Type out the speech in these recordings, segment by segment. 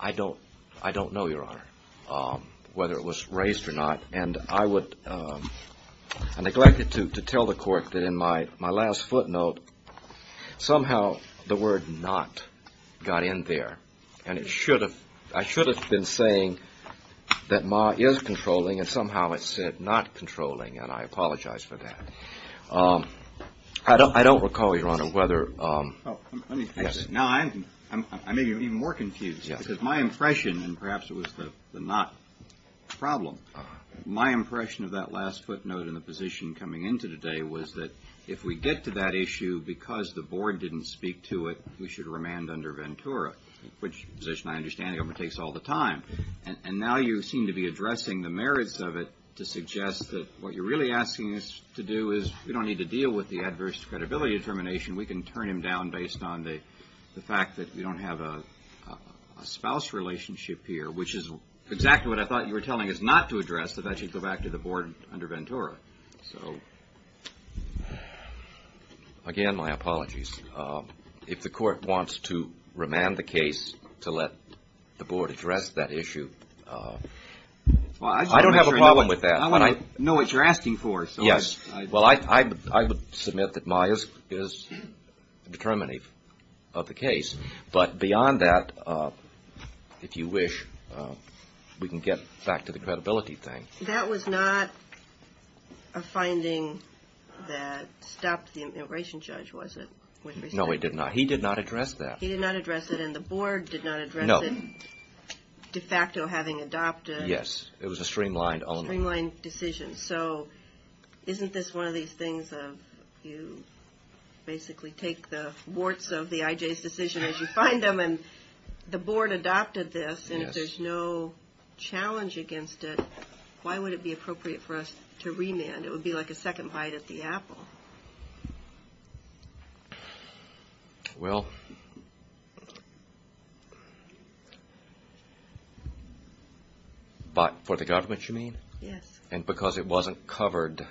I don't know, Your Honor, whether it was raised or not, and I neglected to tell the court that in my last footnote somehow the word not got in there, and I should have been saying that Ma is controlling, and somehow it said not controlling, and I apologize for that. I don't recall, Your Honor, whether, no, I may be even more confused, because my impression, and perhaps it was the not problem, my impression of that last footnote and the position coming into today was that if we get to that issue because the board didn't speak to it, we should remand under Ventura, which position I understand takes all the time, and now you seem to be addressing the merits of it to suggest that what you're really asking us to do is we don't need to deal with the adverse credibility determination. We can turn him down based on the fact that we don't have a spouse relationship here, which is exactly what I thought you were telling us not to address, so that should go back to the board under Ventura. So again, my apologies. If the court wants to remand the case to let the board address that issue, I don't have a problem with that. I want to know what you're asking for. Yes. Well, I would submit that my is the determinative of the case, but beyond that, if you wish, we can get back to the credibility thing. That was not a finding that stopped the immigration judge, was it? No, it did not. He did not address that. He did not address it, and the board did not address it, de facto having adopted. Yes. It was a streamlined. Streamlined decision, so isn't this one of these things of you basically take the warts of the IJ's decision as you find them, and the board adopted this, and if there's no challenge against it, why would it be appropriate for us to remand? It would be like a second bite at the apple. Well, but for the government, you mean? Yes. And because it wasn't covered,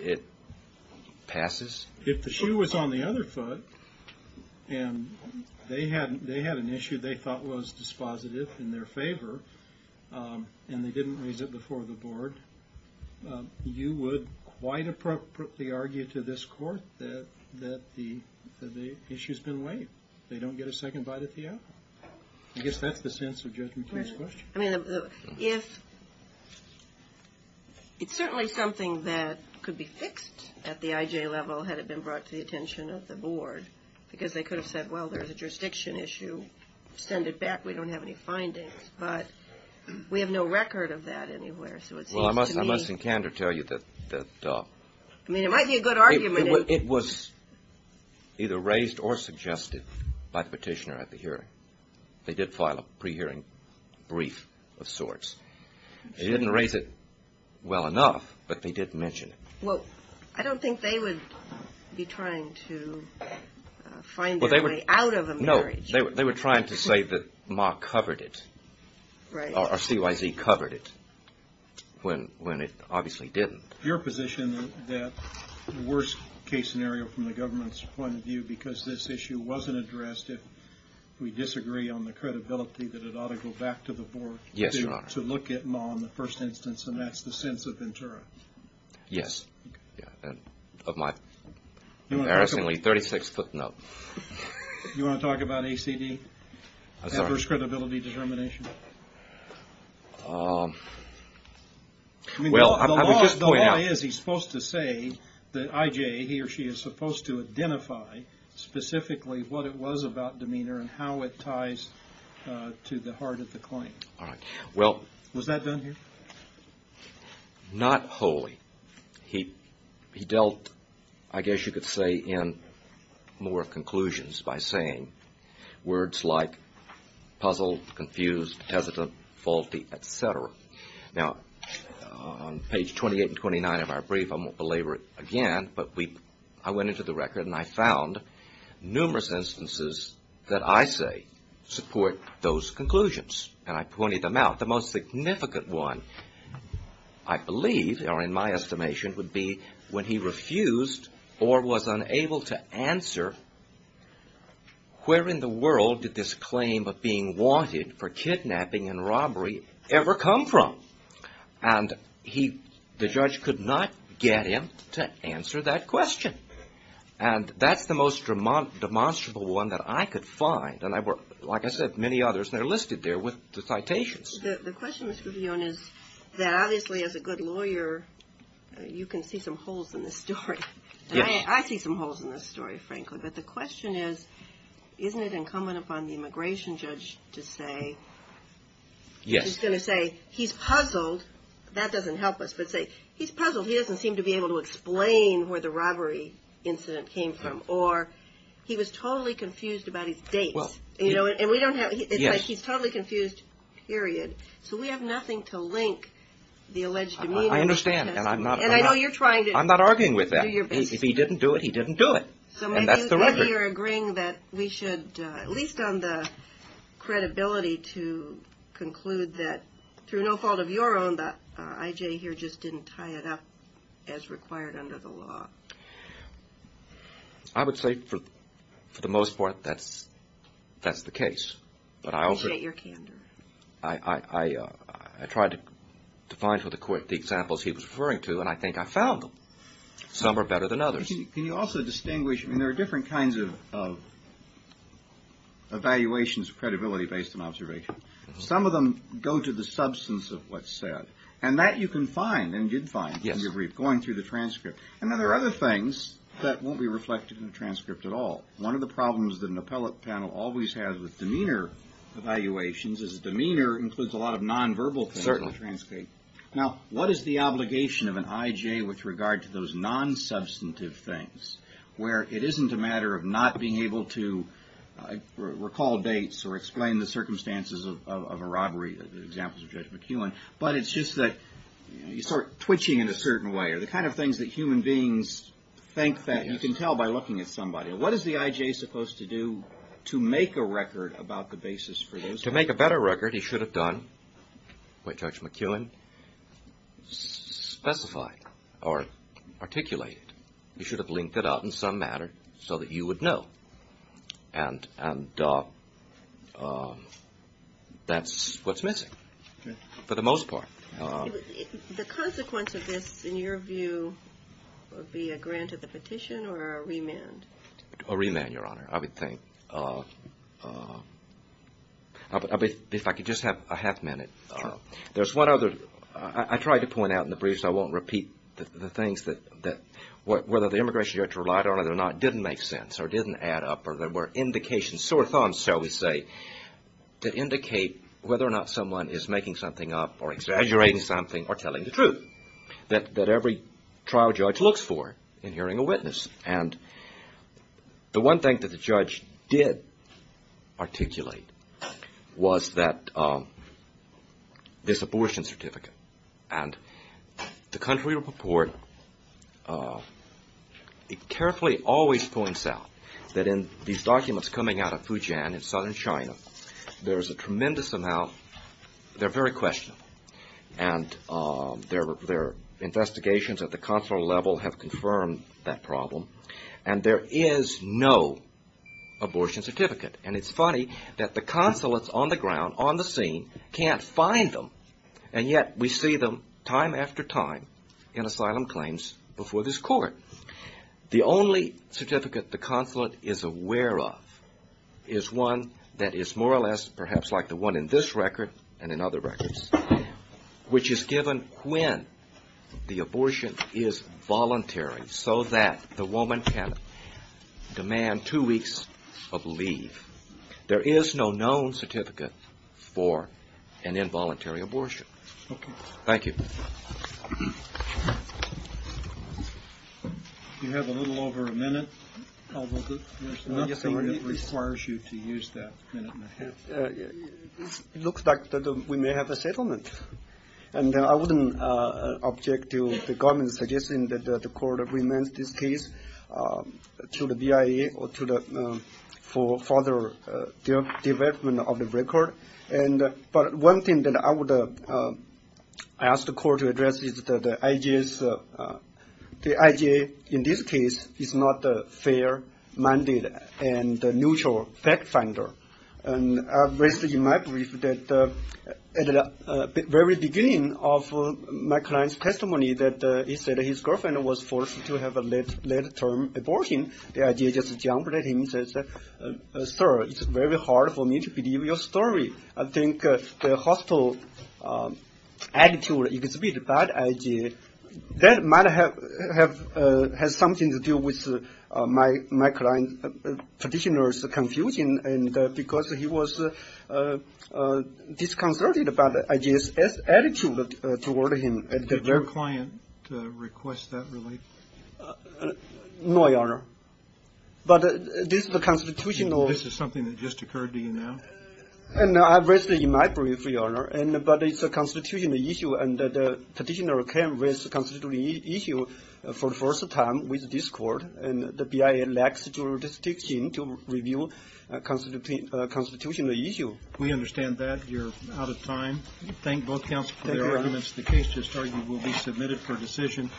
it passes? If the shoe was on the other foot, and they had an issue they thought was dispositive in their favor, and they didn't raise it before the board, you would quite appropriately argue to this court that the issue's been waived. They don't get a second bite at the apple. I guess that's the sense of Judge McKee's question. It's certainly something that could be fixed at the IJ level, had it been brought to the attention of the board, because they could have said, well, there's a jurisdiction issue, we can send it back, we don't have any findings, but we have no record of that anywhere, so it seems to me... Well, I must in candor tell you that... I mean, it might be a good argument... It was either raised or suggested by the petitioner at the hearing. They did file a pre-hearing brief of sorts. They didn't raise it well enough, but they did mention it. Well, I don't think they would be trying to find their way out of a marriage. They were trying to say that MA covered it, or CYZ covered it, when it obviously didn't. Your position that the worst case scenario from the government's point of view, because this issue wasn't addressed, if we disagree on the credibility, that it ought to go back to the board to look at MA in the first instance, and that's the sense of Ventura. Yes. Of my embarrassingly 36-foot note. You want to talk about ACD, adverse credibility determination? Well, I would just point out... The law is he's supposed to say that IJ, he or she, is supposed to identify specifically what it was about demeanor and how it ties to the heart of the claim. Was that done here? Not wholly. He dealt, I guess you could say, in more conclusions by saying words like puzzle, confused, hesitant, faulty, et cetera. Now on page 28 and 29 of our brief, I won't belabor it again, but I went into the record and I found numerous instances that I say support those conclusions, and I pointed them out. The most significant one, I believe, or in my estimation, would be when he refused or was unable to answer where in the world did this claim of being wanted for kidnapping and robbery ever come from, and the judge could not get him to answer that question, and that's the most demonstrable one that I could find, and like I said, many others that are listed there with the citations. The question, Mr. Guzion, is that obviously as a good lawyer, you can see some holes in this story. Yes. I see some holes in this story, frankly, but the question is, isn't it incumbent upon the immigration judge to say, he's going to say, he's puzzled. That doesn't help us, but say, he's puzzled, he doesn't seem to be able to explain where the robbery incident came from, or he was totally confused about his dates, and we don't know. Yes. It's like he's totally confused, period. So we have nothing to link the alleged immunity to this. I understand, and I'm not... And I know you're trying to... I'm not arguing with that. Do your best. If he didn't do it, he didn't do it, and that's the record. So maybe you're agreeing that we should, at least on the credibility, to conclude that through no fault of your own, that I.J. here just didn't tie it up as required under the law. I would say, for the most part, that's the case, but I also... Appreciate your candor. I tried to find for the court the examples he was referring to, and I think I found them. Some are better than others. Can you also distinguish, I mean, there are different kinds of evaluations of credibility based on observation. Some of them go to the substance of what's said, and that you can find, and did find, going through the transcript. And then there are other things that won't be reflected in the transcript at all. One of the problems that an appellate panel always has with demeanor evaluations is demeanor includes a lot of non-verbal things that are transcribed. Now what is the obligation of an I.J. with regard to those non-substantive things, where it isn't a matter of not being able to recall dates or explain the circumstances of a robbery or the examples of Judge McKeown, but it's just that you start twitching in a certain way, or the kind of things that human beings think that you can tell by looking at somebody. What is the I.J. supposed to do to make a record about the basis for those things? To make a better record, he should have done what Judge McKeown specified or articulated. He should have linked it up in some manner so that you would know. And that's what's missing, for the most part. The consequence of this, in your view, would be a grant of the petition or a remand? A remand, Your Honor, I would think. If I could just have a half minute. Sure. There's one other, I tried to point out in the briefs, I won't repeat the things that, whether the Immigration Judge relied on it or not, didn't make sense, or didn't add up, or there were indications, sore thumbs, shall we say, that indicate whether or not someone is making something up, or exaggerating something, or telling the truth that every trial judge looks for in hearing a witness. And the one thing that the judge did articulate was that, this abortion certificate. And the country report carefully always points out that in these documents coming out of Fujian in southern China, there's a tremendous amount, they're very questionable. And their investigations at the consular level have confirmed that problem. And there is no abortion certificate. And it's funny that the consulates on the ground, on the scene, can't find them. And yet we see them time after time in asylum claims before this court. The only certificate the consulate is aware of is one that is more or less perhaps like the one in this record and in other records, which is given when the abortion is voluntary so that the woman can demand two weeks of leave. There is no known certificate for an involuntary abortion. Thank you. You have a little over a minute, although there's nothing that requires you to use that minute and a half. It looks like we may have a settlement. And I wouldn't object to the government suggesting that the court remand this case to the BIA or to the, for further development of the record. But one thing that I would ask the court to address is that the IGA, in this case, is not a fair-minded and neutral fact finder. And I raised in my brief that at the very beginning of my client's testimony that he and his girlfriend was forced to have a late-term abortion, the IGA just jumped at him and said, Sir, it's very hard for me to believe your story. I think the hostile attitude, it could be the bad IGA. That might have something to do with my client's petitioner's confusion because he was disconcerted by the IGA's attitude toward him. Did your client request that relief? No, Your Honor. But this is a constitutional... This is something that just occurred to you now? No, I raised it in my brief, Your Honor. But it's a constitutional issue and the petitioner can raise a constitutional issue for the first time with this court. And the BIA lacks jurisdiction to review a constitutional issue. We understand that. You're out of time. Thank both counsels for their arguments. The case to start will be submitted for decision.